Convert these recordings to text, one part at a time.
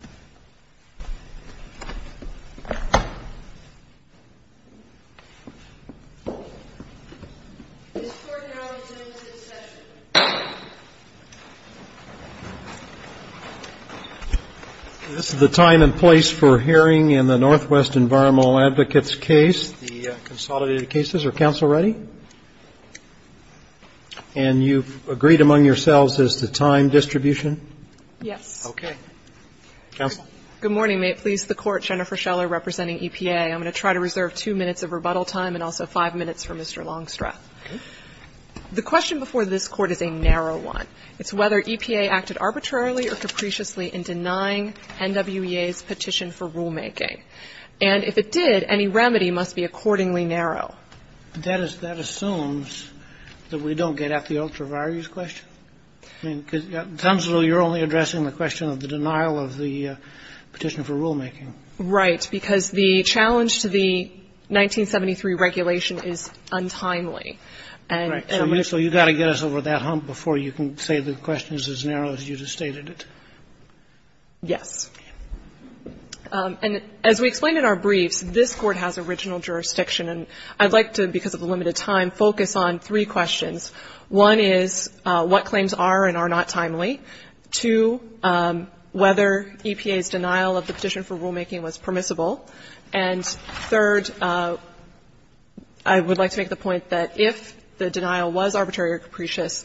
NW Environmental Advocates Case, Consolidated Cases or Council Ready? And you've agreed among yourselves as to time distribution? Yes. Okay. Counsel? Good morning. May it please the Court, Jennifer Scheller representing EPA. I'm going to try to reserve 2 minutes of rebuttal time and also 5 minutes for Mr. Longstreth. Okay. The question before this Court is a narrow one. It's whether EPA acted arbitrarily or capriciously in denying NWEA's petition for rulemaking. And if it did, any remedy must be accordingly narrow. That assumes that we don't get at the ultra-various question. I mean, it sounds as though you're only addressing the question of the denial of the petition for rulemaking. Right. Because the challenge to the 1973 regulation is untimely. Right. So you've got to get us over that hump before you can say the question is as narrow as you just stated it. Yes. And as we explained in our briefs, this Court has original jurisdiction. And I'd like to, because of the limited time, focus on three questions. One is what claims are and are not timely. Two, whether EPA's denial of the petition for rulemaking was permissible. And third, I would like to make the point that if the denial was arbitrary or capricious,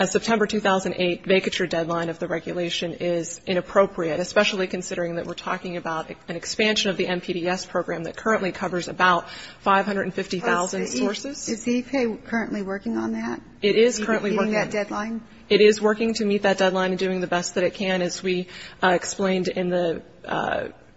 a September 2008 vacature deadline of the regulation is inappropriate, especially considering that we're talking about an expansion of the NPDES program that currently covers about 550,000 sources. Is EPA currently working on that? It is currently working. Meeting that deadline? It is working to meet that deadline and doing the best that it can. As we explained in the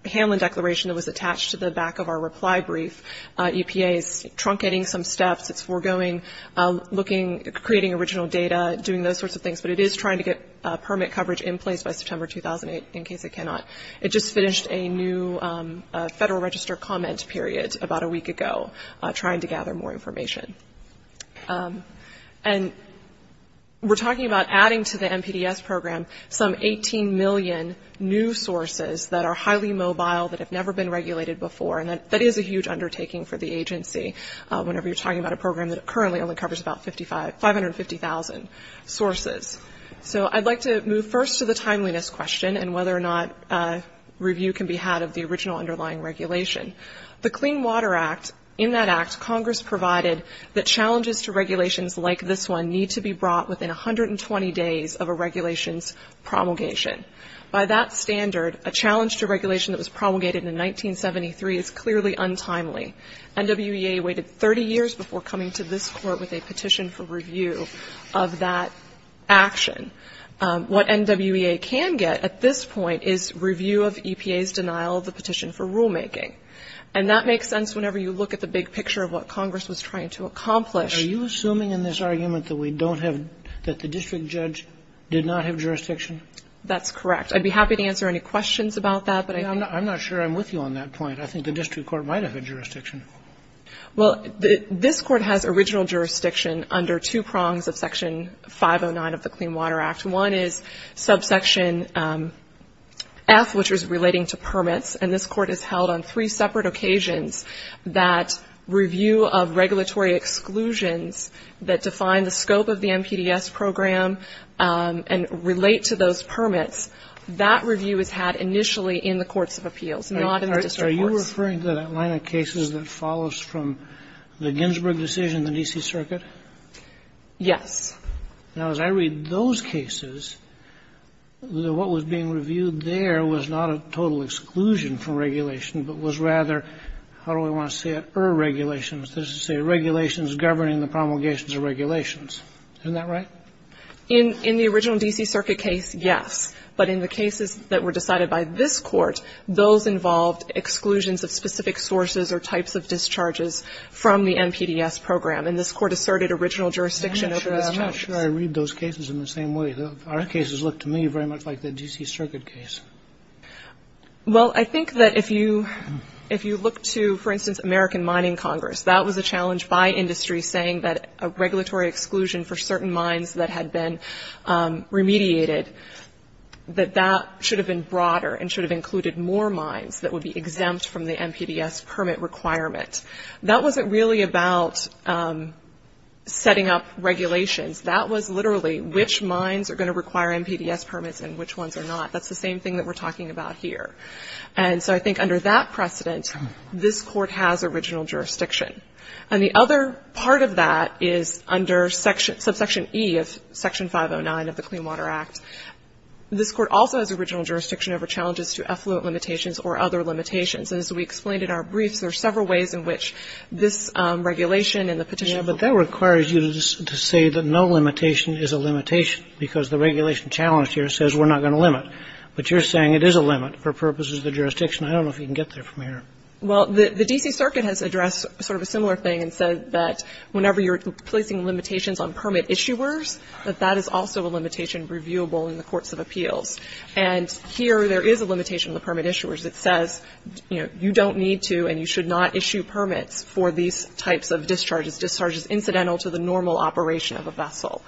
Hanlon declaration that was attached to the back of our reply brief, EPA is truncating some steps. It's foregoing looking, creating original data, doing those sorts of things. But it is trying to get permit coverage in place by September 2008, in case it cannot. It just finished a new Federal Register comment period about a week ago, trying to gather more information. And we're talking about adding to the NPDES program some 18 million new sources that are highly mobile, that have never been regulated before. And that is a huge undertaking for the agency, whenever you're talking about a program that currently only covers about 550,000 sources. So I'd like to move first to the timeliness question and whether or not review can be had of the original underlying regulation. The Clean Water Act, in that act, Congress provided that challenges to regulations like this one need to be brought within 120 days of a regulations promulgation. By that standard, a challenge to regulation that was promulgated in 1973 is clearly untimely. NWEA waited 30 years before coming to this court with a petition for review of that action. What NWEA can get at this point is review of EPA's denial of the petition for rulemaking. And that makes sense whenever you look at the big picture of what Congress was trying to accomplish. Are you assuming in this argument that we don't have, that the district judge did not have jurisdiction? That's correct. I'd be happy to answer any questions about that. I'm not sure I'm with you on that point. I think the district court might have had jurisdiction. Well, this court has original jurisdiction under two prongs of Section 509 of the Clean Water Act. One is subsection F, which is relating to permits. And this court has held on three separate occasions that review of regulatory exclusions that define the scope of the MPDS program and relate to those permits. That review is had initially in the courts of appeals, not in the district courts. Are you referring to that line of cases that follows from the Ginsburg decision, the D.C. Circuit? Yes. Now, as I read those cases, what was being reviewed there was not a total exclusion from regulation, but was rather, how do I want to say it, irregulations. This is to say regulations governing the promulgations of regulations. Isn't that right? In the original D.C. Circuit case, yes. But in the cases that were decided by this Court, those involved exclusions of specific sources or types of discharges from the MPDS program. And this Court asserted original jurisdiction over those charges. I'm not sure I read those cases in the same way. Our cases look to me very much like the D.C. Circuit case. Well, I think that if you look to, for instance, American Mining Congress, that was a challenge by industry saying that a regulatory exclusion for certain mines that had been remediated, that that should have been broader and should have included more mines that would be exempt from the MPDS permit requirement. That wasn't really about setting up regulations. That was literally which mines are going to require MPDS permits and which ones are not. That's the same thing that we're talking about here. And so I think under that precedent, this Court has original jurisdiction. And the other part of that is under subsection E of Section 509 of the Clean Water Act. This Court also has original jurisdiction over challenges to effluent limitations or other limitations. And as we explained in our briefs, there are several ways in which this regulation and the petition. Kagan. But that requires you to say that no limitation is a limitation because the regulation challenge here says we're not going to limit. But you're saying it is a limit for purposes of the jurisdiction. I don't know if you can get there from here. Well, the D.C. Circuit has addressed sort of a similar thing and said that whenever you're placing limitations on permit issuers, that that is also a limitation reviewable in the courts of appeals. And here there is a limitation on the permit issuers. It says, you know, you don't need to and you should not issue permits for these types of discharges, discharges incidental to the normal operation of a vessel.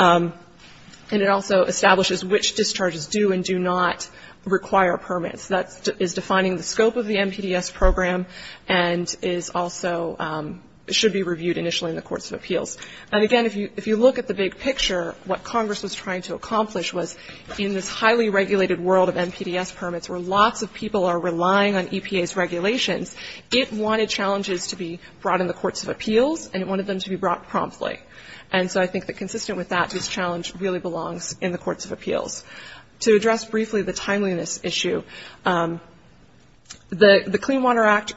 And it also establishes which discharges do and do not require permits. That is defining the scope of the MPDS program and is also should be reviewed initially in the courts of appeals. And, again, if you look at the big picture, what Congress was trying to accomplish was in this highly regulated world of MPDS permits where lots of people are relying on EPA's regulations, it wanted challenges to be brought in the courts of appeals and it wanted them to be brought promptly. And so I think that consistent with that, this challenge really belongs in the courts of appeals. To address briefly the timeliness issue, the Clean Water Act,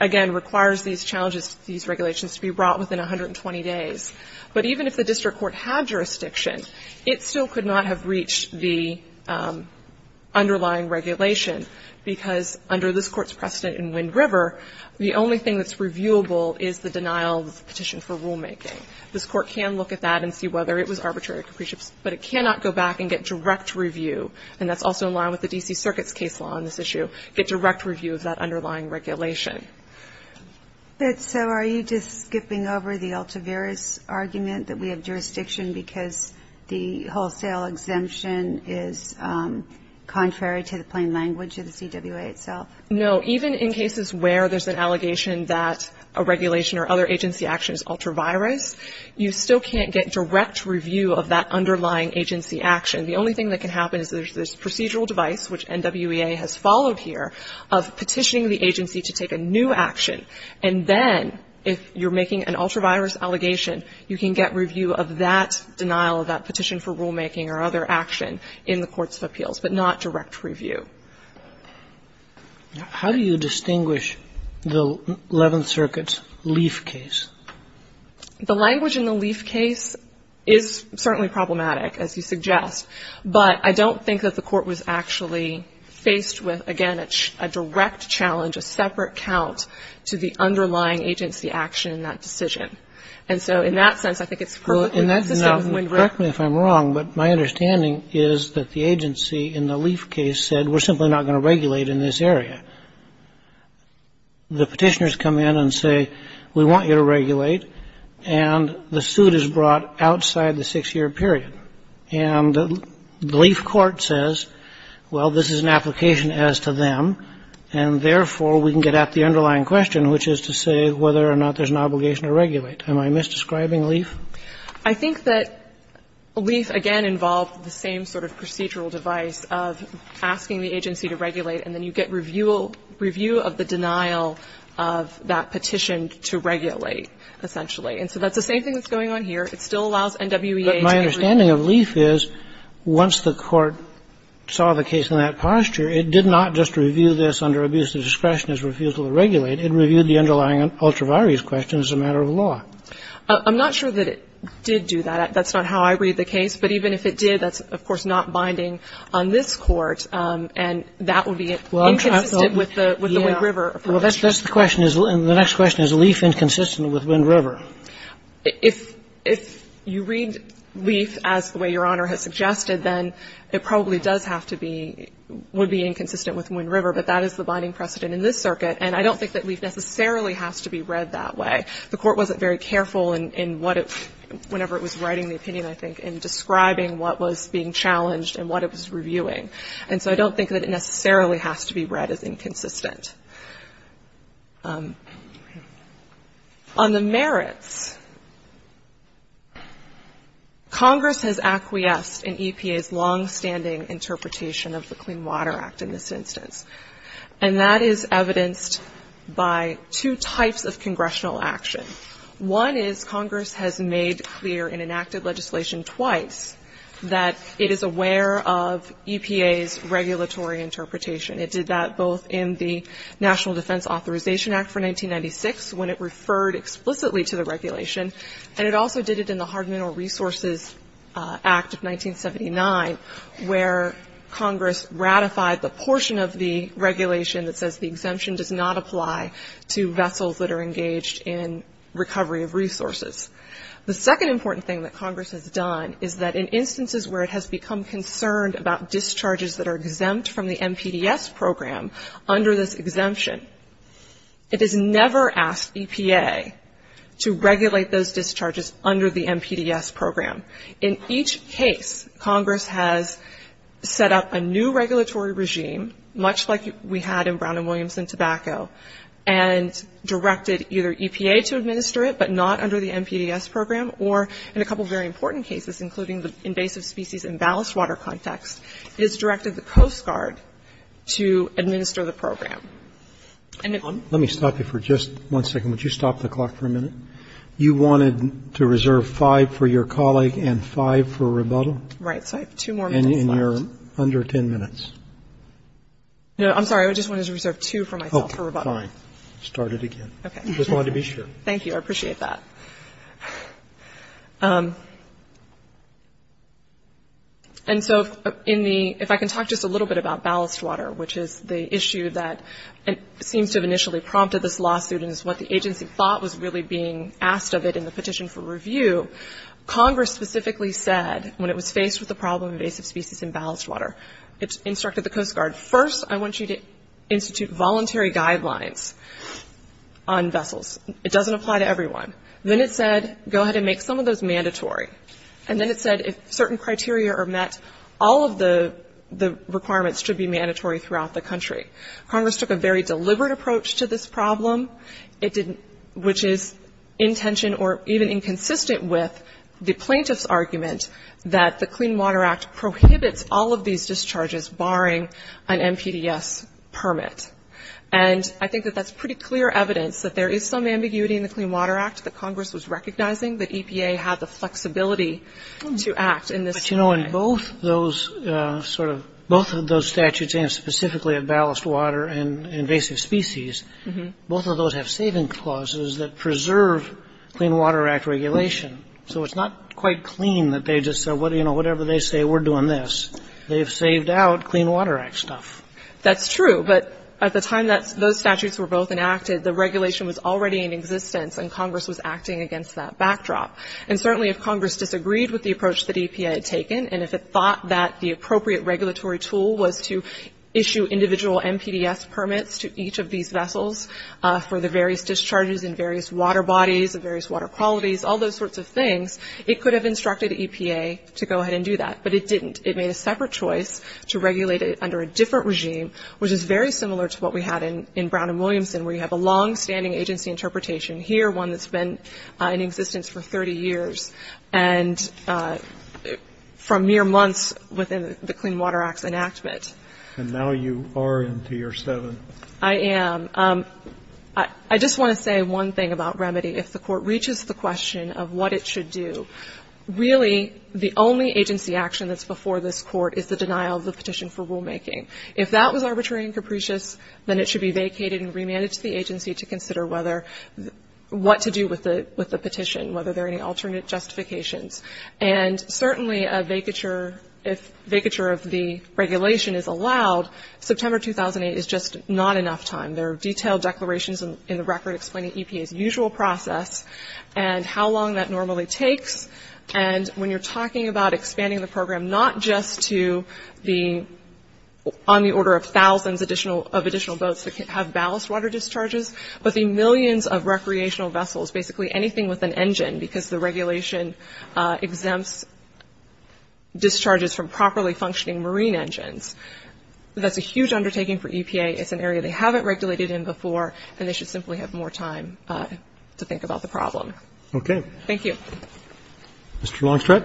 again, requires these challenges, these regulations to be brought within 120 days. But even if the district court had jurisdiction, it still could not have reached the underlying regulation, because under this Court's precedent in Wind River, the only thing that's reviewable is the denial of the petition for rulemaking. This Court can look at that and see whether it was arbitrary capricious, but it cannot go back and get direct review, and that's also in line with the D.C. Circuit's case law on this issue, get direct review of that underlying regulation. So are you just skipping over the ultra-virus argument that we have jurisdiction because the wholesale exemption is contrary to the plain language of the CWA itself? No. Even in cases where there's an allegation that a regulation or other agency action is ultra-virus, you still can't get direct review of that underlying agency action. The only thing that can happen is there's this procedural device, which And then if you're making an ultra-virus allegation, you can get review of that denial of that petition for rulemaking or other action in the courts of appeals, but not direct review. How do you distinguish the Eleventh Circuit's Leaf case? The language in the Leaf case is certainly problematic, as you suggest, but I don't think that the Court was actually faced with, again, a direct challenge, a separate account to the underlying agency action in that decision. And so in that sense, I think it's perfectly consistent with Wind River. Correct me if I'm wrong, but my understanding is that the agency in the Leaf case said, we're simply not going to regulate in this area. The petitioners come in and say, we want you to regulate, and the suit is brought outside the six-year period. And the Leaf court says, well, this is an application as to them, and therefore, we can get at the underlying question, which is to say whether or not there's an obligation to regulate. Am I misdescribing Leaf? I think that Leaf, again, involved the same sort of procedural device of asking the agency to regulate, and then you get review of the denial of that petition to regulate, essentially. And so that's the same thing that's going on here. It still allows NWEA to give review. But my understanding of Leaf is, once the Court saw the case in that posture, it did not just review this under abuse of discretion as refusal to regulate. It reviewed the underlying ultraviolence question as a matter of law. I'm not sure that it did do that. That's not how I read the case. But even if it did, that's, of course, not binding on this Court, and that would be inconsistent with the Wind River approach. Well, that's the question. The next question is, is Leaf inconsistent with Wind River? If you read Leaf as the way Your Honor has suggested, then it probably does have to be, would be inconsistent with Wind River. But that is the binding precedent in this circuit. And I don't think that Leaf necessarily has to be read that way. The Court wasn't very careful in what it, whenever it was writing the opinion, I think, in describing what was being challenged and what it was reviewing. And so I don't think that it necessarily has to be read as inconsistent. On the merits, Congress has acquiesced in EPA's longstanding interpretation of the Clean Water Act in this instance. And that is evidenced by two types of congressional action. One is Congress has made clear in enacted legislation twice that it is aware of EPA's regulatory interpretation. It did that both in the National Defense Authorization Act for 1996, when it referred explicitly to the regulation. And it also did it in the Hard Mineral Resources Act of 1979, where Congress ratified the portion of the regulation that says the exemption does not apply to vessels that are engaged in recovery of resources. The second important thing that Congress has done is that in instances where it under this exemption, it has never asked EPA to regulate those discharges under the MPDS program. In each case, Congress has set up a new regulatory regime, much like we had in Brown and Williams and tobacco, and directed either EPA to administer it, but not under the MPDS program, or in a couple of very important cases, including the invasive species and ballast water context, it has directed the Coast Guard to administer the program. And it goes from there. Roberts. Let me stop you for just one second. Would you stop the clock for a minute? You wanted to reserve five for your colleague and five for rebuttal? Right. So I have two more minutes left. And you're under 10 minutes. No, I'm sorry. I just wanted to reserve two for myself for rebuttal. Oh, fine. Start it again. Okay. Just wanted to be sure. Thank you. I appreciate that. And so if I can talk just a little bit about ballast water, which is the issue that seems to have initially prompted this lawsuit and is what the agency thought was really being asked of it in the petition for review, Congress specifically said when it was faced with the problem of invasive species and ballast water, it instructed the Coast Guard, first I want you to institute voluntary guidelines on vessels. It doesn't apply to everyone. Then it said go ahead and make some of those mandatory. And then it said if certain criteria are met, all of the requirements should be mandatory throughout the country. Congress took a very deliberate approach to this problem, which is in tension or even inconsistent with the plaintiff's argument that the Clean Water Act prohibits all of these discharges barring an NPDES permit. And I think that that's pretty clear evidence that there is some ambiguity in the Clean Water Act that Congress was recognizing that EPA had the flexibility to act in this way. But, you know, in both those sort of ‑‑ both of those statutes, and specifically of ballast water and invasive species, both of those have saving clauses that preserve Clean Water Act regulation. So it's not quite clean that they just said, you know, whatever they say, we're doing this. They've saved out Clean Water Act stuff. That's true. But at the time those statutes were both enacted, the regulation was already in existence and Congress was acting against that backdrop. And certainly if Congress disagreed with the approach that EPA had taken, and if it thought that the appropriate regulatory tool was to issue individual NPDES permits to each of these vessels for the various discharges and various water bodies and various water qualities, all those sorts of things, it could have instructed EPA to go ahead and do that. But it didn't. It made a separate choice to regulate it under a different regime, which is very similar to what we had in Brown and Williamson, where you have a longstanding agency interpretation here, one that's been in existence for 30 years, and from mere months within the Clean Water Act's enactment. And now you are in Tier 7. I am. I just want to say one thing about remedy. If the Court reaches the question of what it should do, really the only agency action that's before this Court is the denial of the petition for rulemaking. If that was arbitrary and capricious, then it should be vacated and remanded to the agency to consider what to do with the petition, whether there are any alternate justifications. And certainly a vacature of the regulation is allowed. September 2008 is just not enough time. There are detailed declarations in the record explaining EPA's usual process and how long that normally takes. And when you're talking about expanding the program not just to the on the order of thousands of additional boats that have ballast water discharges, but the millions of recreational vessels, basically anything with an engine, because the regulation exempts discharges from properly functioning marine engines, that's a huge undertaking for EPA. It's an area they haven't regulated in before, and they should simply have more time to think about the problem. Okay. Thank you. Mr. Longstreth.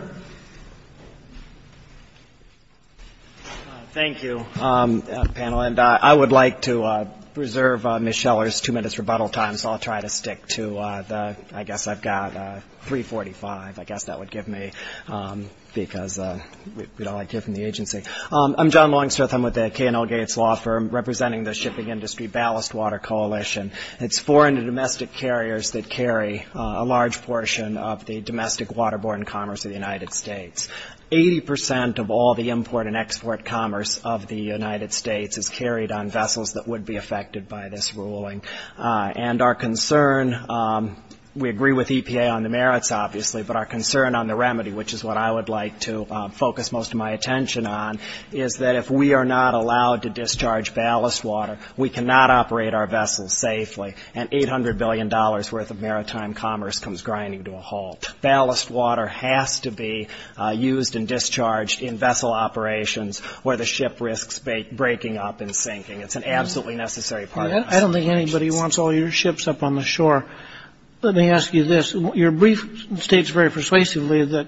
Thank you, panel. And I would like to preserve Ms. Scheller's 2 minutes rebuttal time, so I'll try to stick to the, I guess I've got 345. I guess that would give me, because we don't like giving the agency. I'm John Longstreth. I'm with the K&L Gates Law Firm, representing the shipping industry ballast water coalition. It's 400 domestic carriers that carry a large portion of the domestic waterborne commerce of the United States. Eighty percent of all the import and export commerce of the United States is carried on vessels that would be affected by this ruling. And our concern, we agree with EPA on the merits, obviously, but our concern on the remedy, which is what I would like to focus most of my attention on, is that if we are not allowed to discharge ballast water, we cannot operate our vessels safely, and $800 billion worth of maritime commerce comes grinding to a halt. Ballast water has to be used and discharged in vessel operations where the ship risks breaking up and sinking. It's an absolutely necessary part of our operations. I don't think anybody wants all your ships up on the shore. Let me ask you this. Your brief states very persuasively that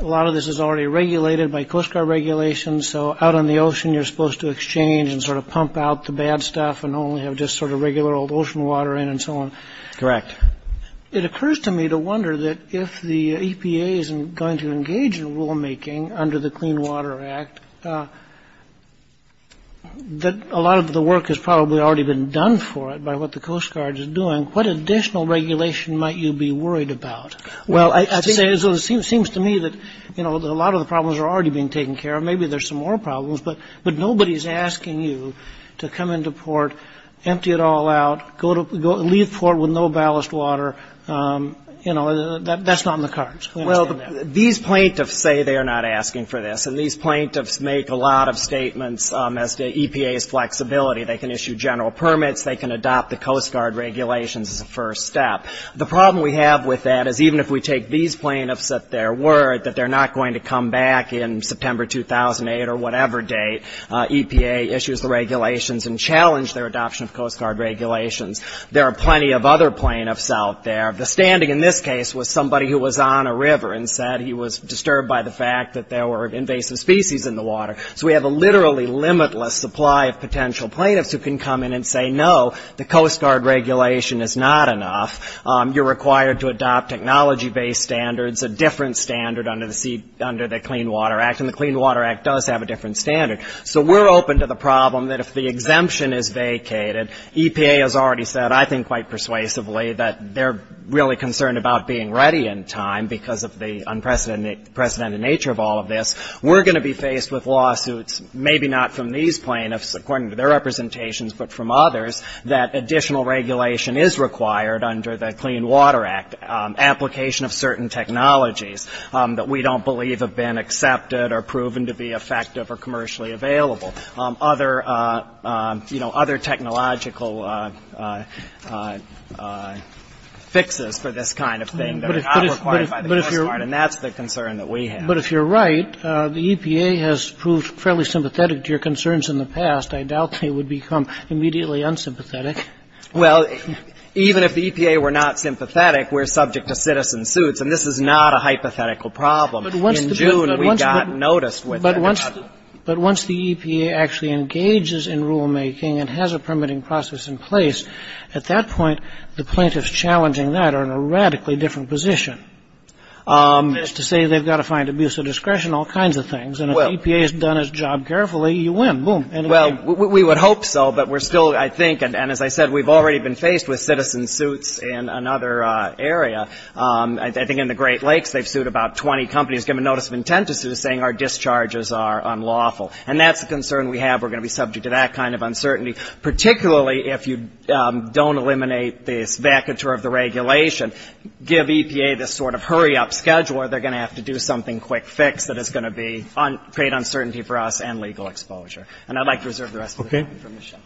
a lot of this is already regulated by Coast Guard regulations, so out on the ocean you're supposed to exchange and sort of pump out the bad stuff and only have just sort of regular old ocean water in and so on. Correct. It occurs to me to wonder that if the EPA isn't going to engage in rulemaking under the Clean Water Act, that a lot of the work has probably already been done for it by what the Coast Guard is doing. What additional regulation might you be worried about? Well, it seems to me that a lot of the problems are already being taken care of. Maybe there's some more problems, but nobody's asking you to come into port, empty it all out, leave port with no ballast water. That's not in the cards. Well, these plaintiffs say they are not asking for this, and these plaintiffs make a lot of statements as to EPA's flexibility. They can issue general permits, they can adopt the Coast Guard regulations as a first step. The problem we have with that is even if we take these plaintiffs at their word that they're not going to come back in September 2008 or whatever date, EPA issues the regulations and challenge their adoption of Coast Guard regulations. There are plenty of other plaintiffs out there. The standing in this case was somebody who was on a river and said he was disturbed by the fact that there were invasive species in the water. So we have a literally limitless supply of potential plaintiffs who can come in and say, no, the Coast Guard regulation is not enough. You're required to adopt technology-based standards, a different standard under the Clean Water Act, and the Clean Water Act does have a different standard. So we're open to the problem that if the exemption is vacated, EPA has already said, I think quite persuasively, that they're really concerned about being ready in time because of the unprecedented nature of all of this. We're going to be faced with lawsuits, maybe not from these plaintiffs, according to their representations, but from others, that additional regulation is required under the Clean Water Act, application of certain technologies that we don't believe have been accepted or proven to be effective or commercially available, other, you know, other technological fixes for this kind of thing that are not required by the Coast Guard. And that's the concern that we have. But if you're right, the EPA has proved fairly sympathetic to your concerns in the past. I doubt they would become immediately unsympathetic. Well, even if the EPA were not sympathetic, we're subject to citizen suits, and this is not a hypothetical problem. In June, we got noticed with it. But once the EPA actually engages in rulemaking and has a permitting process in place, at that point, the plaintiffs challenging that are in a radically different position. To say they've got to find abuse of discretion, all kinds of things. And if EPA has done its job carefully, you win. Boom. Well, we would hope so, but we're still, I think, and as I said, we've already been faced with citizen suits in another area. I think in the Great Lakes, they've sued about 20 companies, given notice of intent to sue, saying our discharges are unlawful. And that's the concern we have. We're going to be subject to that kind of uncertainty, particularly if you don't eliminate this vacatur of the regulation, give EPA this sort of hurry-up schedule where they're going to have to do something, quick fix, that is going to be, create uncertainty for us and legal exposure. And I'd like to reserve the rest of the time for Michelle.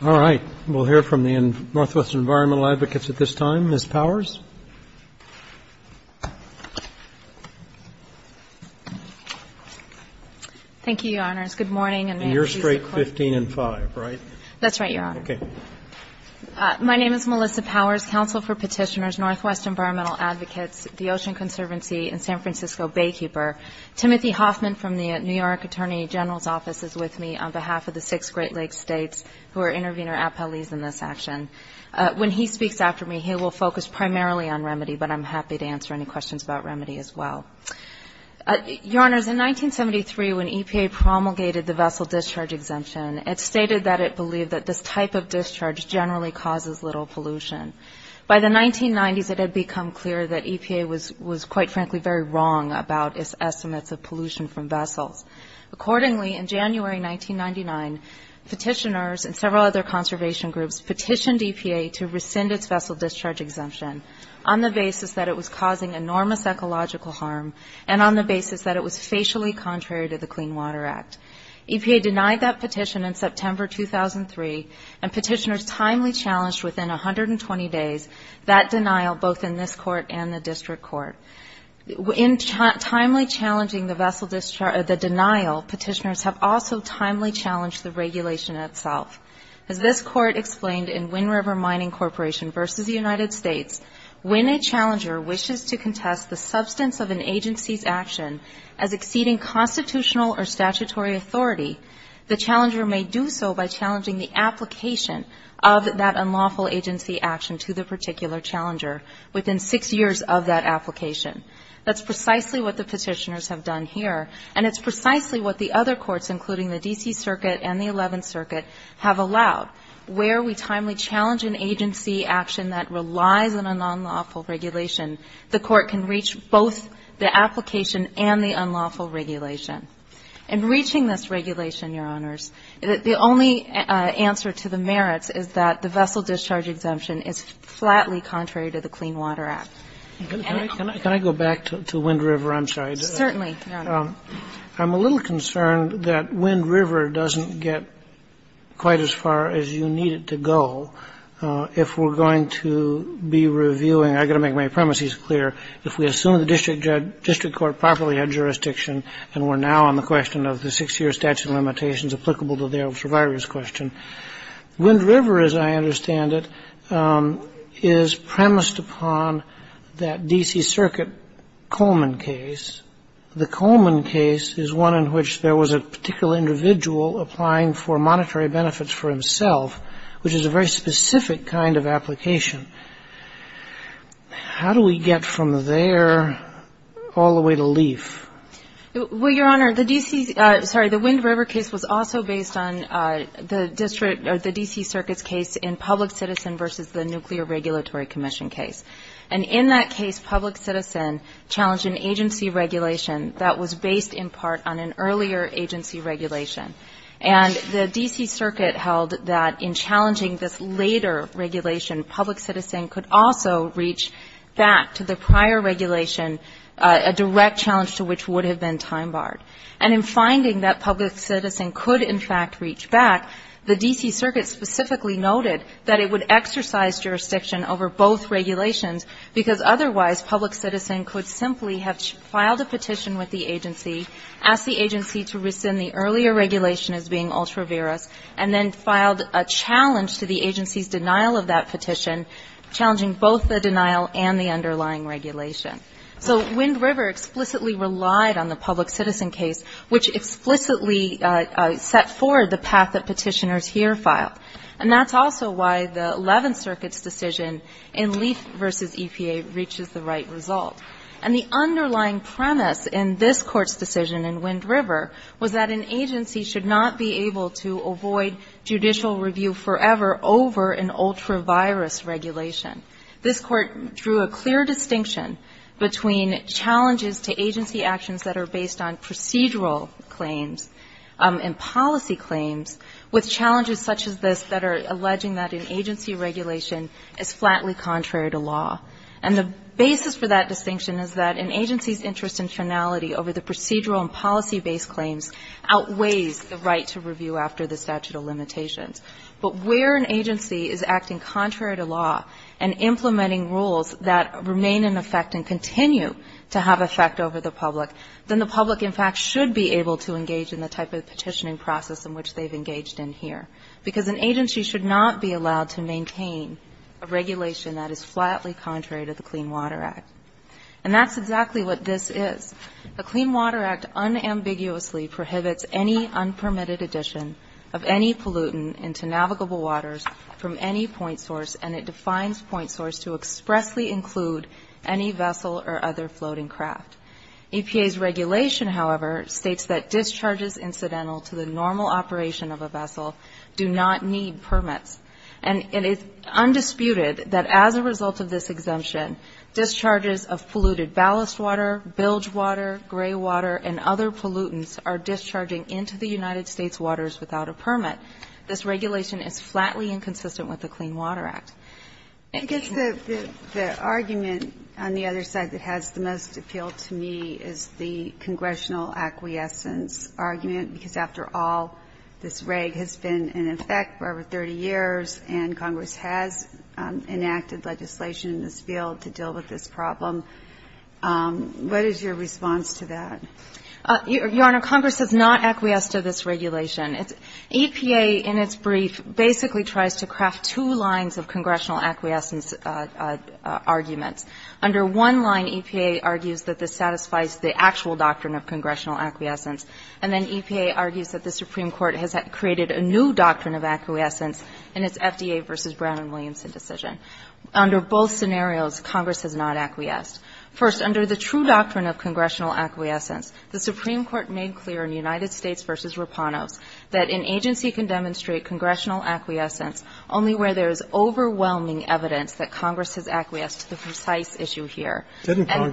Roberts. All right. We'll hear from the Northwestern Environmental Advocates at this time. Ms. Powers. Thank you, Your Honors. Good morning, and may it please the Court. You're straight 15 and 5, right? That's right, Your Honor. Okay. My name is Melissa Powers, Counsel for Petitioners, Northwest Environmental Advocates, the Ocean Conservancy, and San Francisco Baykeeper. Timothy Hoffman from the New York Attorney General's Office is with me on behalf of the six Great Lakes states who are intervener appellees in this action. When he speaks after me, he will focus primarily on remedy, but I'm happy to answer any questions about remedy as well. Your Honors, in 1973, when EPA promulgated the vessel discharge exemption, it stated that it believed that this type of discharge generally causes little pollution. By the 1990s, it had become clear that EPA was, quite frankly, very wrong about its estimates of pollution from vessels. Accordingly, in January 1999, petitioners and several other conservation groups petitioned EPA to rescind its vessel discharge exemption on the basis that it was causing enormous ecological harm and on the basis that it was facially contrary to the Clean Water Act. EPA denied that petition in September 2003, and petitioners timely challenged within 120 days that denial, both in this Court and the District Court. In timely challenging the denial, petitioners have also timely challenged the regulation itself. As this Court explained in Wind River Mining Corporation v. United States, when a challenger wishes to contest the substance of an agency's action as exceeding constitutional or statutory authority, the challenger may do so by challenging the application of that unlawful agency action to the particular challenger within six years of that application. That's precisely what the petitioners have done here, and it's precisely what the other courts, including the D.C. Circuit and the Eleventh Circuit, have allowed. Where we timely challenge an agency action that relies on a non-lawful regulation, the Court can reach both the application and the unlawful regulation. In reaching this regulation, Your Honors, the only answer to the merits is that the vessel discharge exemption is flatly contrary to the Clean Water Act. And it's not true. Can I go back to Wind River? I'm sorry. Certainly, Your Honor. I'm a little concerned that Wind River doesn't get quite as far as you need it to go if we're going to be reviewing. I've got to make my premises clear. If we assume the district court properly had jurisdiction and we're now on the question of the six-year statute of limitations applicable to the elder survivor's question, Wind River, as I understand it, is premised upon that D.C. Circuit Coleman case. The Coleman case is one in which there was a particular individual applying for monetary benefits for himself, which is a very specific kind of application. How do we get from there all the way to Leif? Well, Your Honor, the D.C. Sorry. The Wind River case was also based on the district or the D.C. Circuit's case in public citizen versus the Nuclear Regulatory Commission case. And in that case, public citizen challenged an agency regulation that was based in part on an earlier agency regulation. And the D.C. Circuit held that in challenging this later regulation, public citizen could also reach back to the prior regulation, a direct challenge to which would have been time barred. And in finding that public citizen could, in fact, reach back, the D.C. Circuit specifically noted that it would exercise jurisdiction over both regulations, because otherwise public citizen could simply have filed a petition with the agency, asked the agency to rescind the earlier regulation as being ultra-virus, and then filed a challenge to the agency's denial of that petition, challenging both the denial and the underlying regulation. So Wind River explicitly relied on the public citizen case, which explicitly set forward the path that petitioners here filed. And that's also why the Eleventh Circuit's decision in Leif versus EPA reaches the right result. And the underlying premise in this Court's decision in Wind River was that an agency should not be able to avoid judicial review forever over an ultra-virus regulation. This Court drew a clear distinction between challenges to agency actions that are based on procedural claims and policy claims, with challenges such as this that are alleging that an agency regulation is flatly contrary to law. And the basis for that distinction is that an agency's interest in finality over the procedural and policy-based claims outweighs the right to review after the statute of limitations. But where an agency is acting contrary to law and implementing rules that remain in effect and continue to have effect over the public, then the public in fact should be able to engage in the type of petitioning process in which they've engaged in here. Because an agency should not be allowed to maintain a regulation that is flatly contrary to the Clean Water Act. And that's exactly what this is. The Clean Water Act unambiguously prohibits any unpermitted addition of any pollutant into navigable waters from any point source, and it defines point source to expressly include any vessel or other floating craft. EPA's regulation, however, states that discharges incidental to the normal operation of a vessel do not need permits. And it's undisputed that as a result of this exemption, discharges of polluted ballast water, bilge water, gray water, and other pollutants are discharging into the United States waters without a permit. This regulation is flatly inconsistent with the Clean Water Act. I guess the argument on the other side that has the most appeal to me is the congressional acquiescence argument, because after all, this reg has been in effect for over 30 years, and Congress has enacted legislation in this field to deal with this problem. What is your response to that? Your Honor, Congress has not acquiesced to this regulation. EPA, in its brief, basically tries to craft two lines of congressional acquiescence arguments. Under one line, EPA argues that this satisfies the actual doctrine of congressional acquiescence, and then EPA argues that the Supreme Court has created a new doctrine of acquiescence in its FDA v. Brown v. Williamson decision. Under both scenarios, Congress has not acquiesced. First, under the true doctrine of congressional acquiescence, the Supreme Court made clear in United States v. Rapanos that an agency can demonstrate congressional acquiescence only where there is overwhelming evidence that Congress has acquiesced to the precise issue here. It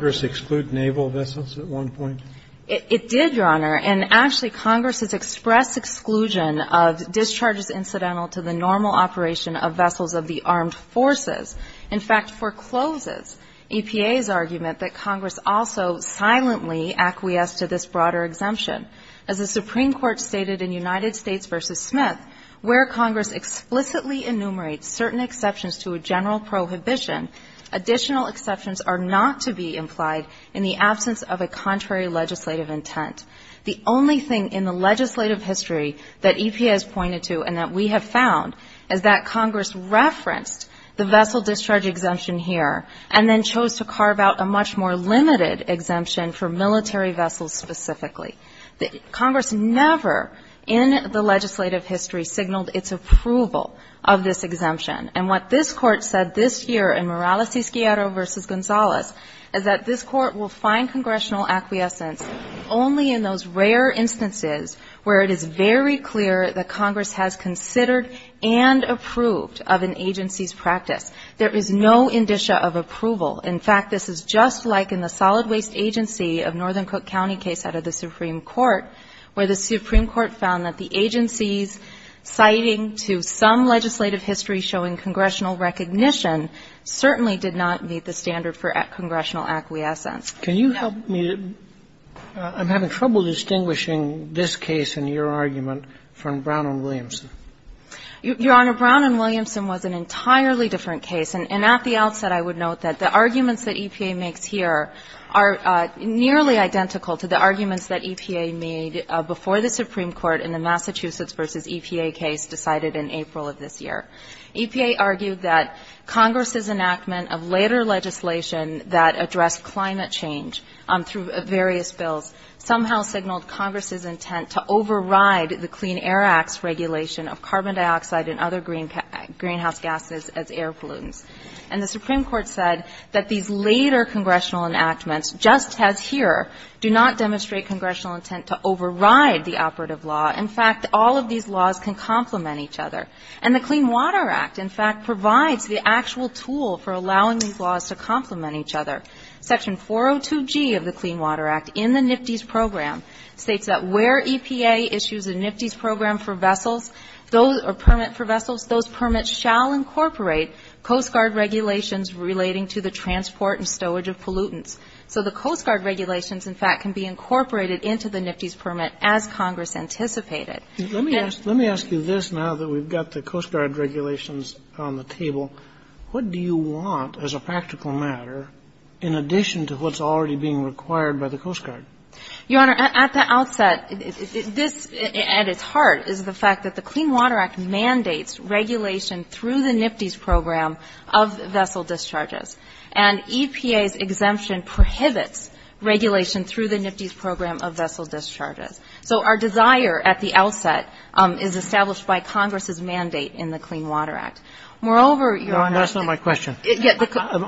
did, Your Honor. And actually, Congress has expressed exclusion of discharges incidental to the normal operation of vessels of the armed forces, in fact, forecloses EPA's argument that Congress also silently acquiesced to this broader exemption. As the Supreme Court stated in United States v. Smith, where Congress explicitly enumerates certain exceptions to a general prohibition, additional exceptions are not to be implied in the absence of a contrary legislative intent. The only thing in the legislative history that EPA has pointed to and that we have found is that Congress referenced the vessel discharge exemption here, and then chose to carve out a much more limited exemption for military vessels specifically. Congress never in the legislative history signaled its approval of this exemption. And what this Court said this year in Morales-Cisquiero v. Gonzalez is that this is very clear that Congress has considered and approved of an agency's practice. There is no indicia of approval. In fact, this is just like in the solid waste agency of Northern Cook County case out of the Supreme Court, where the Supreme Court found that the agency's citing to some legislative history showing congressional recognition certainly did not meet the standard for congressional acquiescence. Can you help me? I'm having trouble distinguishing this case and your argument from Brown v. Williamson. Your Honor, Brown v. Williamson was an entirely different case. And at the outset, I would note that the arguments that EPA makes here are nearly identical to the arguments that EPA made before the Supreme Court in the Massachusetts v. EPA case decided in April of this year. EPA argued that Congress's enactment of later legislation that addressed climate change through various bills somehow signaled Congress's intent to override the Clean Air Act's regulation of carbon dioxide and other greenhouse gases as air pollutants. And the Supreme Court said that these later congressional enactments, just as here, do not demonstrate congressional intent to override the operative law. In fact, all of these laws can complement each other. And the Clean Water Act, in fact, provides the actual tool for allowing these laws to complement each other. Section 402G of the Clean Water Act in the NFTIS program states that where EPA issues a NFTIS program for vessels or permit for vessels, those permits shall incorporate Coast Guard regulations relating to the transport and stowage of pollutants. So the Coast Guard regulations, in fact, can be incorporated into the NFTIS permit as Congress anticipated. Let me ask you this now that we've got the Coast Guard regulations on the table. What do you want as a practical matter in addition to what's already being required by the Coast Guard? Your Honor, at the outset, this, at its heart, is the fact that the Clean Water Act mandates regulation through the NFTIS program of vessel discharges. And EPA's exemption prohibits regulation through the NFTIS program of vessel discharges. So our desire at the outset is established by Congress's mandate in the Clean Water Act. Moreover, Your Honor Your Honor, that's not my question.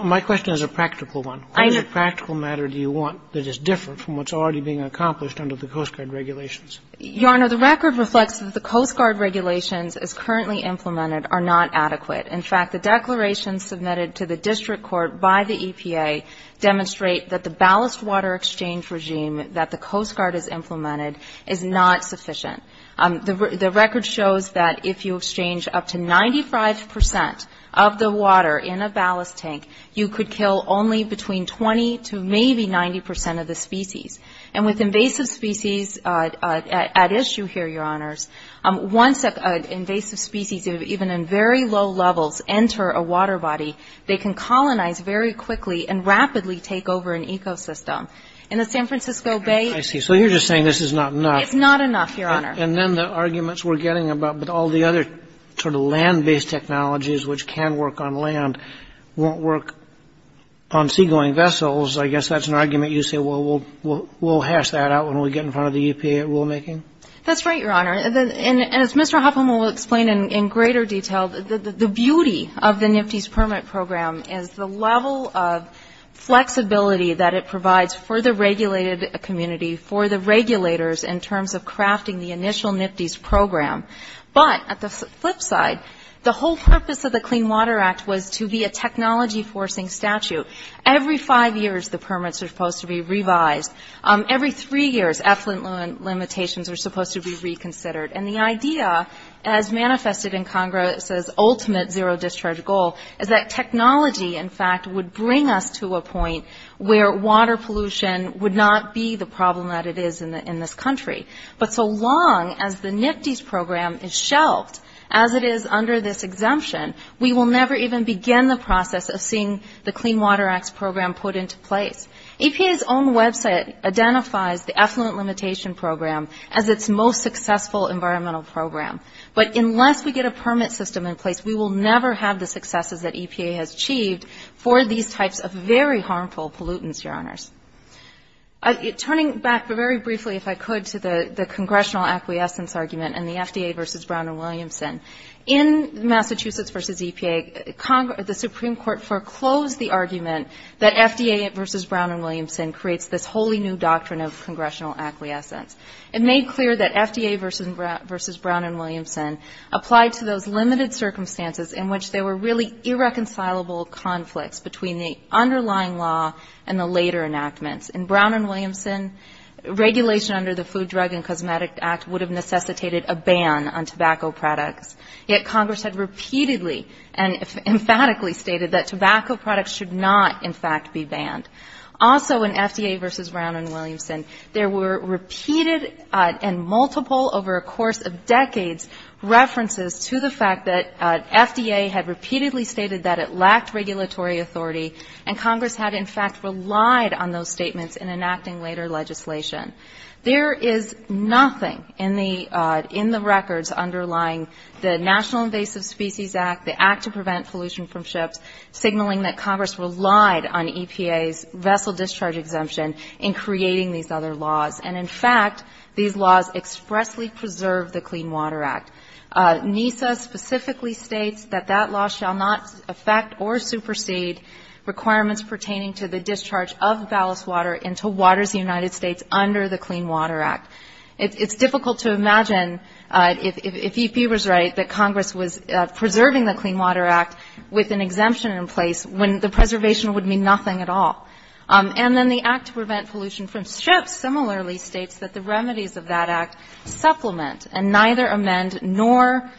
My question is a practical one. What practical matter do you want that is different from what's already being accomplished under the Coast Guard regulations? Your Honor, the record reflects that the Coast Guard regulations as currently implemented are not adequate. In fact, the declarations submitted to the district court by the EPA demonstrate that the ballast water exchange regime that the Coast Guard has implemented is not sufficient. The record shows that if you exchange up to 95 percent of the water in a ballast tank, you could kill only between 20 to maybe 90 percent of the species. And with invasive species at issue here, Your Honors, once invasive species, even in very low levels, enter a water body, they can colonize very quickly and rapidly take over an ecosystem. In the San Francisco Bay I see. So you're just saying this is not enough. It's not enough, Your Honor. And then the arguments we're getting about all the other sort of land-based technologies which can work on land won't work on seagoing vessels. I guess that's an argument you say we'll hash that out when we get in front of the EPA at rulemaking? That's right, Your Honor. And as Mr. Hoffman will explain in greater detail, the beauty of the NIFTIS permit program is the level of flexibility that it provides for the regulated community, for the regulators in terms of crafting the initial NIFTIS program. But at the flip side, the whole purpose of the Clean Water Act was to be a technology-forcing statute. Every five years, the permits are supposed to be revised. Every three years, effluent limitations are supposed to be reconsidered. And the idea, as manifested in Congress's ultimate zero-discharge goal, is that technology, in fact, would bring us to a point where water pollution would not be the problem that it is in this country. But so long as the NIFTIS program is shelved, as it is under this exemption, we will never even begin the process of seeing the Clean Water Act's program put into place. EPA's own website identifies the effluent limitation program as its most successful environmental program. But unless we get a permit system in place, we will never have the successes that EPA has achieved for these types of very harmful pollutants, Your Honors. Turning back very briefly, if I could, to the congressional acquiescence argument and the FDA versus Brown and Williamson, in Massachusetts versus EPA, the Supreme Court foreclosed the argument that FDA versus Brown and Williamson creates this wholly new doctrine of congressional acquiescence. It made clear that FDA versus Brown and Williamson applied to those limited circumstances in which there were really irreconcilable conflicts between the underlying law and the later enactments. In Brown and Williamson, regulation under the Food, Drug, and Cosmetic Act would have necessitated a ban on tobacco products. Yet Congress had repeatedly and emphatically stated that tobacco products should not, in fact, be banned. Also, in FDA versus Brown and Williamson, there were repeated and multiple, over a course of decades, references to the fact that FDA had repeatedly stated that it lacked regulatory authority, and Congress had, in fact, relied on those statements in enacting later legislation. There is nothing in the records underlying the National Invasive Species Act, the Act to Prevent Pollution from Ships, signaling that Congress relied on EPA's vessel discharge exemption in creating these other laws. NISA specifically states that that law shall not affect or supersede requirements pertaining to the discharge of ballast water into waters in the United States under the Clean Water Act. It's difficult to imagine, if EP was right, that Congress was preserving the Clean Water Act with an exemption in place when the preservation would mean nothing at all. And then the Act to Prevent Pollution from Ships similarly states that the remedies of that act supplement and neither amend nor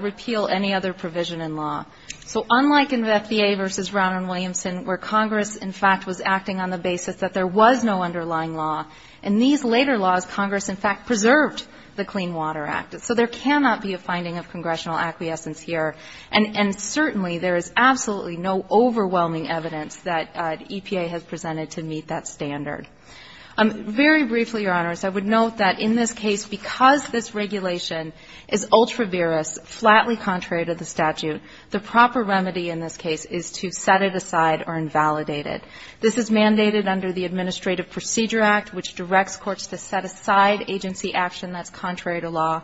repeal any other provision in law. So unlike in FDA versus Brown and Williamson, where Congress, in fact, was acting on the basis that there was no underlying law, in these later laws, Congress, in fact, preserved the Clean Water Act. So there cannot be a finding of congressional acquiescence here, and certainly there is absolutely no overwhelming evidence that EPA has presented to meet that standard. Very briefly, Your Honors, I would note that in this case, because this regulation is ultra-virus, flatly contrary to the statute, the proper remedy in this case is to set it aside or invalidate it. This is mandated under the Administrative Procedure Act, which directs courts to set aside agency action that's contrary to law,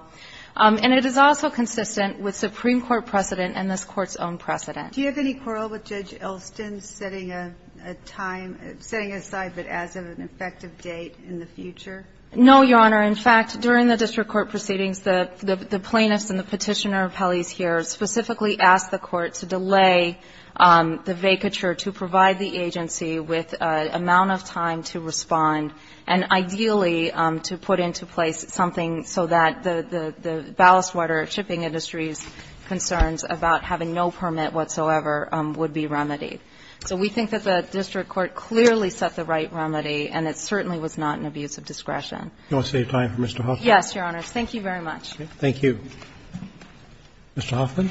and it is also consistent with Supreme Court precedent and this Court's own precedent. Do you have any quarrel with Judge Elston setting a time, setting aside but as of an effective date in the future? No, Your Honor. In fact, during the district court proceedings, the plaintiffs and the Petitioner appellees here specifically asked the court to delay the vacature to provide the agency with an amount of time to respond, and ideally to put into place something so that the ballast water shipping industry's concerns about having no permit whatsoever would be remedied. So we think that the district court clearly set the right remedy, and it certainly was not an abuse of discretion. Do you want to save time for Mr. Hoffman? Yes, Your Honors. Thank you very much. Thank you. Mr. Hoffman.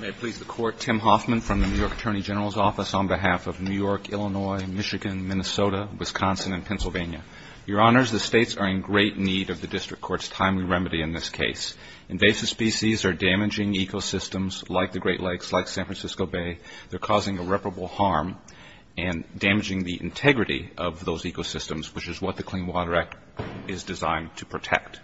May it please the Court, Tim Hoffman from the New York Attorney General's Office on behalf of New York, Illinois, Michigan, Minnesota, Wisconsin, and Pennsylvania. Your Honors, the States are in great need of the district court's timely remedy in this case. Invasive species are damaging ecosystems like the Great Lakes, like San Francisco Bay. They're causing irreparable harm and damaging the integrity of those ecosystems, which is what the Clean Water Act is designed to protect.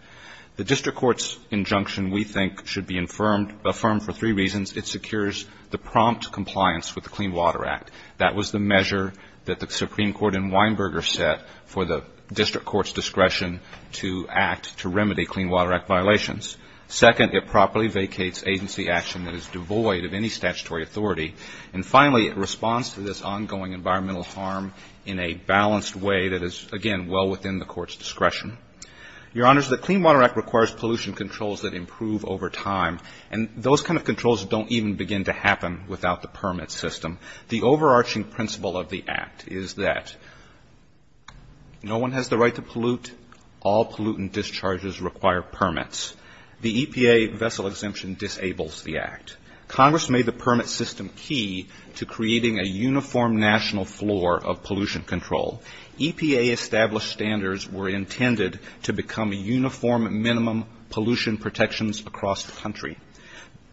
The district court's injunction we think should be affirmed for three reasons. It secures the prompt compliance with the Clean Water Act. That was the measure that the Supreme Court in Weinberger set for the district court's discretion to act to remedy Clean Water Act violations. Second, it properly vacates agency action that is devoid of any statutory authority. And finally, it responds to this ongoing environmental harm in a balanced way that is, again, well within the court's discretion. Your Honors, the Clean Water Act requires pollution controls that improve over time. And those kind of controls don't even begin to happen without the permit system. The overarching principle of the Act is that no one has the right to pollute. All pollutant discharges require permits. The EPA vessel exemption disables the Act. Congress made the permit system key to creating a uniform national floor of pollution control. EPA established standards were intended to become a uniform minimum pollution protections across the country.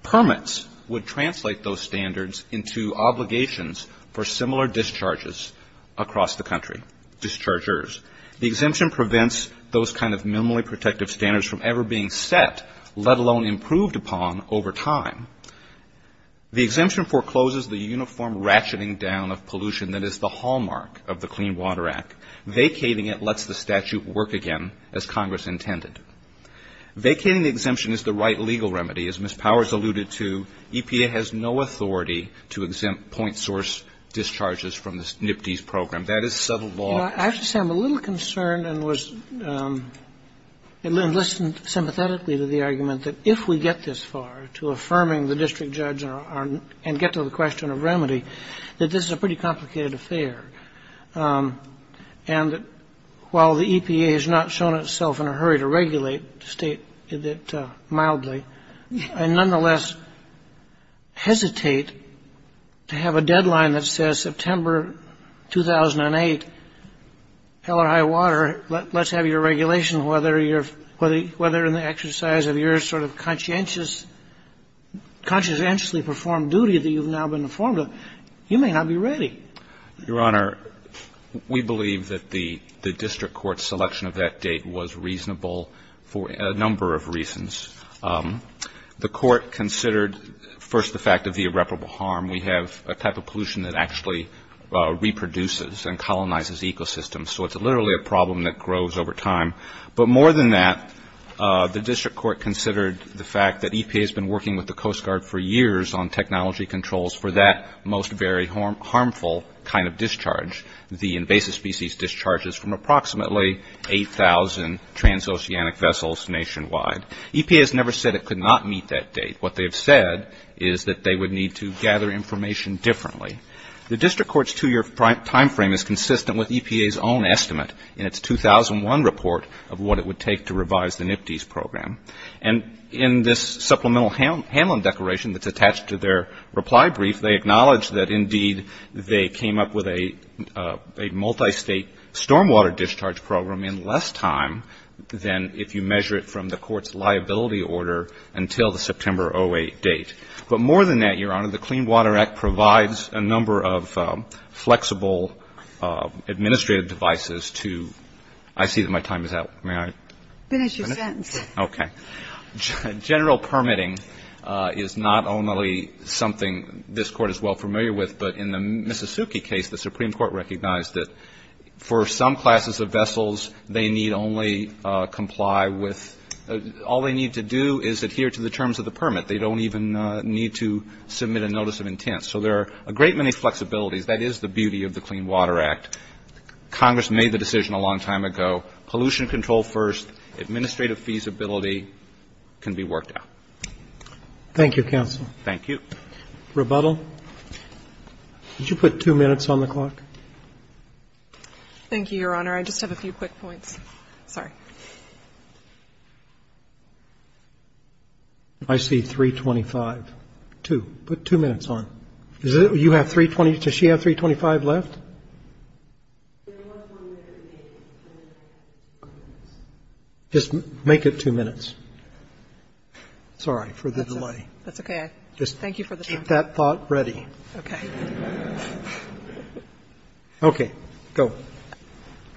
Permits would translate those standards into obligations for similar discharges across the country, dischargers. The exemption prevents those kind of minimally protective standards from ever being set, let alone improved upon over time. The exemption forecloses the uniform ratcheting down of pollution that is the hallmark of the Clean Water Act. Vacating it lets the statute work again, as Congress intended. Vacating the exemption is the right legal remedy. As Ms. Powers alluded to, EPA has no authority to exempt point source discharges from the NPDES program. That is sub-law. I just am a little concerned and was, and listened sympathetically to the argument that if we get this far to affirming the district judge and get to the question of remedy, that this is a pretty complicated affair. And while the EPA has not shown itself in a hurry to regulate, to state that mildly, and nonetheless hesitate to have a deadline that says September 2008, hell or high water, let's have your regulation, whether you're, whether in the exercise of your sort of conscientious, conscientiously performed duty that you've now been informed of, you may not be ready. Your Honor, we believe that the district court's selection of that date was reasonable for a number of reasons. The court considered first the fact of the irreparable harm. We have a type of pollution that actually reproduces and colonizes ecosystems. So it's literally a problem that grows over time. But more than that, the district court considered the fact that EPA has been working with the Coast Guard for years on technology controls for that most very harmful kind of discharge, the invasive species discharges from approximately 8,000 trans-oceanic vessels nationwide. EPA has never said it could not meet that date. What they've said is that they would need to gather information differently. The district court's two-year timeframe is consistent with EPA's own estimate in its 2001 report of what it would take to revise the NIPTES program. And in this supplemental handling declaration that's attached to their reply brief, they acknowledge that, indeed, they came up with a multistate stormwater discharge program in less time than if you measure it from the court's liability order until the September 08 date. But more than that, Your Honor, the Clean Water Act provides a number of flexible administrative devices to – I see that my time is out. May I finish? Ginsburg. Finish your sentence. Okay. General permitting is not only something this Court is well familiar with, but in the NIPTES, they need only comply with – all they need to do is adhere to the terms of the permit. They don't even need to submit a notice of intent. So there are a great many flexibilities. That is the beauty of the Clean Water Act. Congress made the decision a long time ago. Pollution control first. Administrative feasibility can be worked out. Thank you, counsel. Thank you. Rebuttal. Could you put two minutes on the clock? Thank you, Your Honor. I just have a few quick points. Sorry. I see 325. Two. Put two minutes on. Does she have 325 left? Just make it two minutes. Sorry for the delay. That's okay. Thank you for the time. Keep that thought ready. Okay. Okay. Go.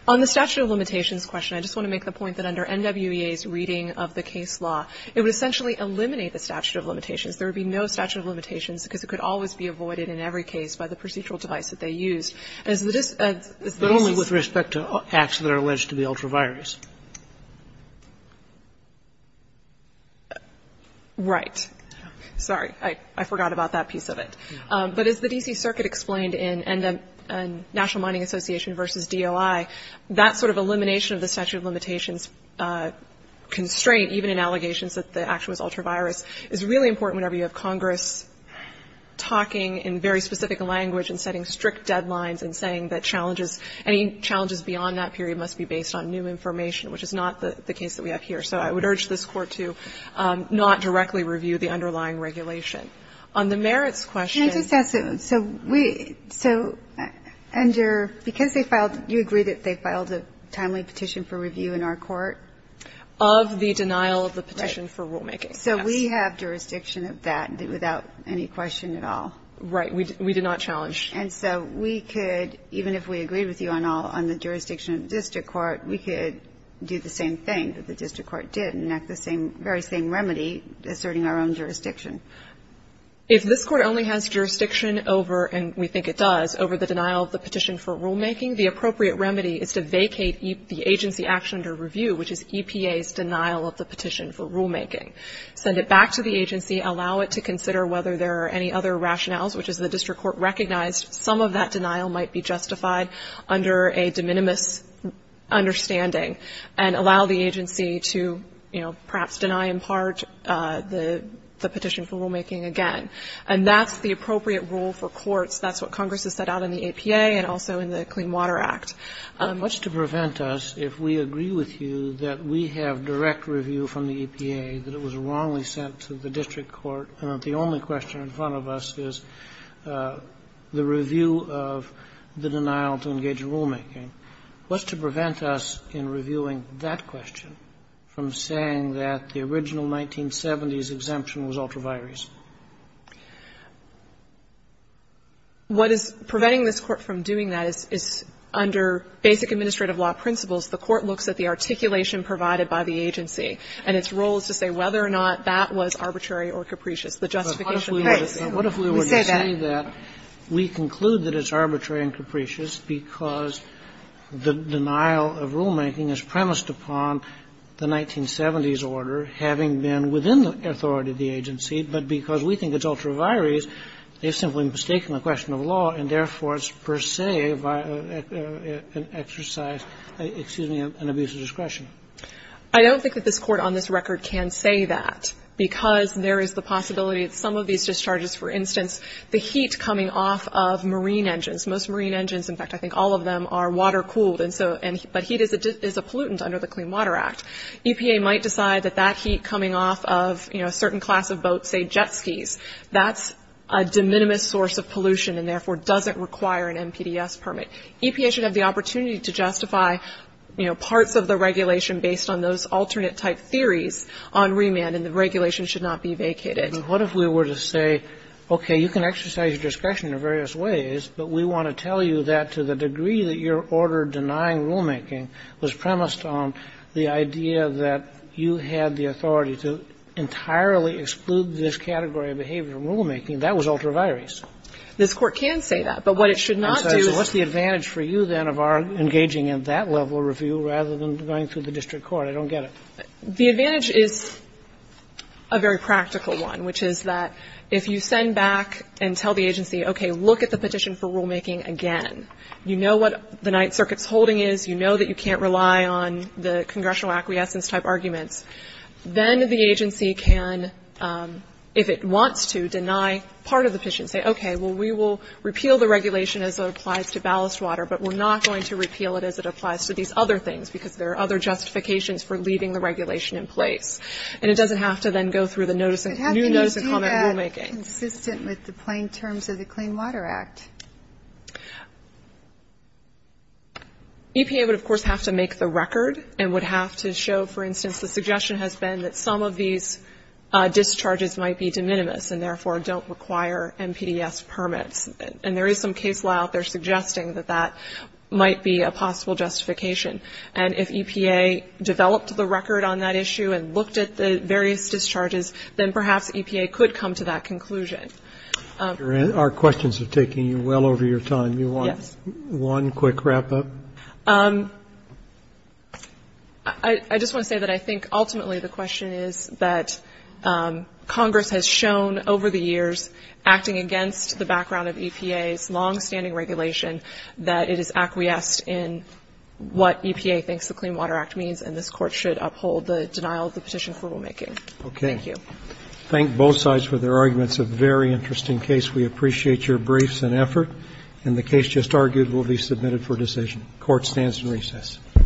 On the statute of limitations question, I just want to make the point that under NWEA's reading of the case law, it would essentially eliminate the statute of limitations. There would be no statute of limitations because it could always be avoided in every case by the procedural device that they used. But only with respect to acts that are alleged to be ultra-virus. Right. Sorry. I forgot about that piece of it. But as the D.C. Circuit explained in National Mining Association versus DOI, that sort of elimination of the statute of limitations constraint, even in allegations that the action was ultra-virus, is really important whenever you have Congress talking in very specific language and setting strict deadlines and saying that challenges, any challenges beyond that period must be based on new information, which is not the case that we have here. So I would urge this Court to not directly review the underlying regulation. On the merits question. Can I just ask, so we, so under, because they filed, you agree that they filed a timely petition for review in our court? Of the denial of the petition for rulemaking. Right. So we have jurisdiction of that without any question at all. Right. We did not challenge. And so we could, even if we agreed with you on all, on the jurisdiction of the district court, we could do the same thing that the district court did and enact the same, same remedy asserting our own jurisdiction. If this Court only has jurisdiction over, and we think it does, over the denial of the petition for rulemaking, the appropriate remedy is to vacate the agency action under review, which is EPA's denial of the petition for rulemaking. Send it back to the agency, allow it to consider whether there are any other rationales, which is the district court recognized some of that denial might be justified under a de minimis understanding, and allow the agency to, you know, perhaps deny in part the petition for rulemaking again. And that's the appropriate rule for courts. That's what Congress has set out in the APA and also in the Clean Water Act. What's to prevent us if we agree with you that we have direct review from the EPA, that it was wrongly sent to the district court, and that the only question in front of us is the review of the denial to engage rulemaking? What's to prevent us in reviewing that question from saying that the original 1970s exemption was ultraviolence? What is preventing this Court from doing that is under basic administrative law principles, the Court looks at the articulation provided by the agency, and its role is to say whether or not that was arbitrary or capricious, the justification case. We say that. We conclude that it's arbitrary and capricious because the denial of rulemaking is premised upon the 1970s order having been within the authority of the agency, but because we think it's ultraviolence, they've simply mistaken the question of law, and therefore it's per se an exercise, excuse me, an abuse of discretion. I don't think that this Court on this record can say that, because there is the possibility that some of these discharges, for instance, the heat coming off of marine engines, most marine engines, in fact, I think all of them are water-cooled, but heat is a pollutant under the Clean Water Act. EPA might decide that that heat coming off of a certain class of boats, say jet skis, that's a de minimis source of pollution and therefore doesn't require an MPDS permit. EPA should have the opportunity to justify parts of the regulation based on those alternate-type theories on remand, and the regulation should not be vacated. Kennedy, but what if we were to say, okay, you can exercise discretion in various ways, but we want to tell you that to the degree that your order denying rulemaking was premised on the idea that you had the authority to entirely exclude this category of behavior in rulemaking, that was ultraviolence? This Court can say that, but what it should not do is to say, well, what's the advantage for you then of our engaging in that level of review rather than going through the district court? I don't get it. The advantage is a very practical one, which is that if you send back and tell the agency, okay, look at the petition for rulemaking again, you know what the Ninth Circuit's holding is, you know that you can't rely on the congressional acquiescence-type arguments, then the agency can, if it wants to, deny part of the petition, say, okay, well, we will repeal the regulation as it applies to ballast water, but we're not going to repeal it as it applies to these other things, because there are other justifications for leaving the regulation in place. And it doesn't have to then go through the new notice of comment rulemaking. But how can you do that consistent with the plain terms of the Clean Water Act? EPA would, of course, have to make the record and would have to show, for instance, the suggestion has been that some of these discharges might be de minimis and therefore don't require NPDES permits. And there is some case law out there suggesting that that might be a possible justification. And if EPA developed the record on that issue and looked at the various discharges, then perhaps EPA could come to that conclusion. Our questions are taking you well over your time. You want one quick wrap-up? I just want to say that I think ultimately the question is that Congress has shown over the years, acting against the background of EPA's longstanding regulation, that it is acquiesced in what EPA thinks the Clean Water Act means and this Court should uphold the denial of the petition for rulemaking. Thank you. Roberts. Thank both sides for their arguments. A very interesting case. We appreciate your briefs and effort. And the case just argued will be submitted for decision. Court stands in recess. All rise. This Court is adjourned. The stand is in recess.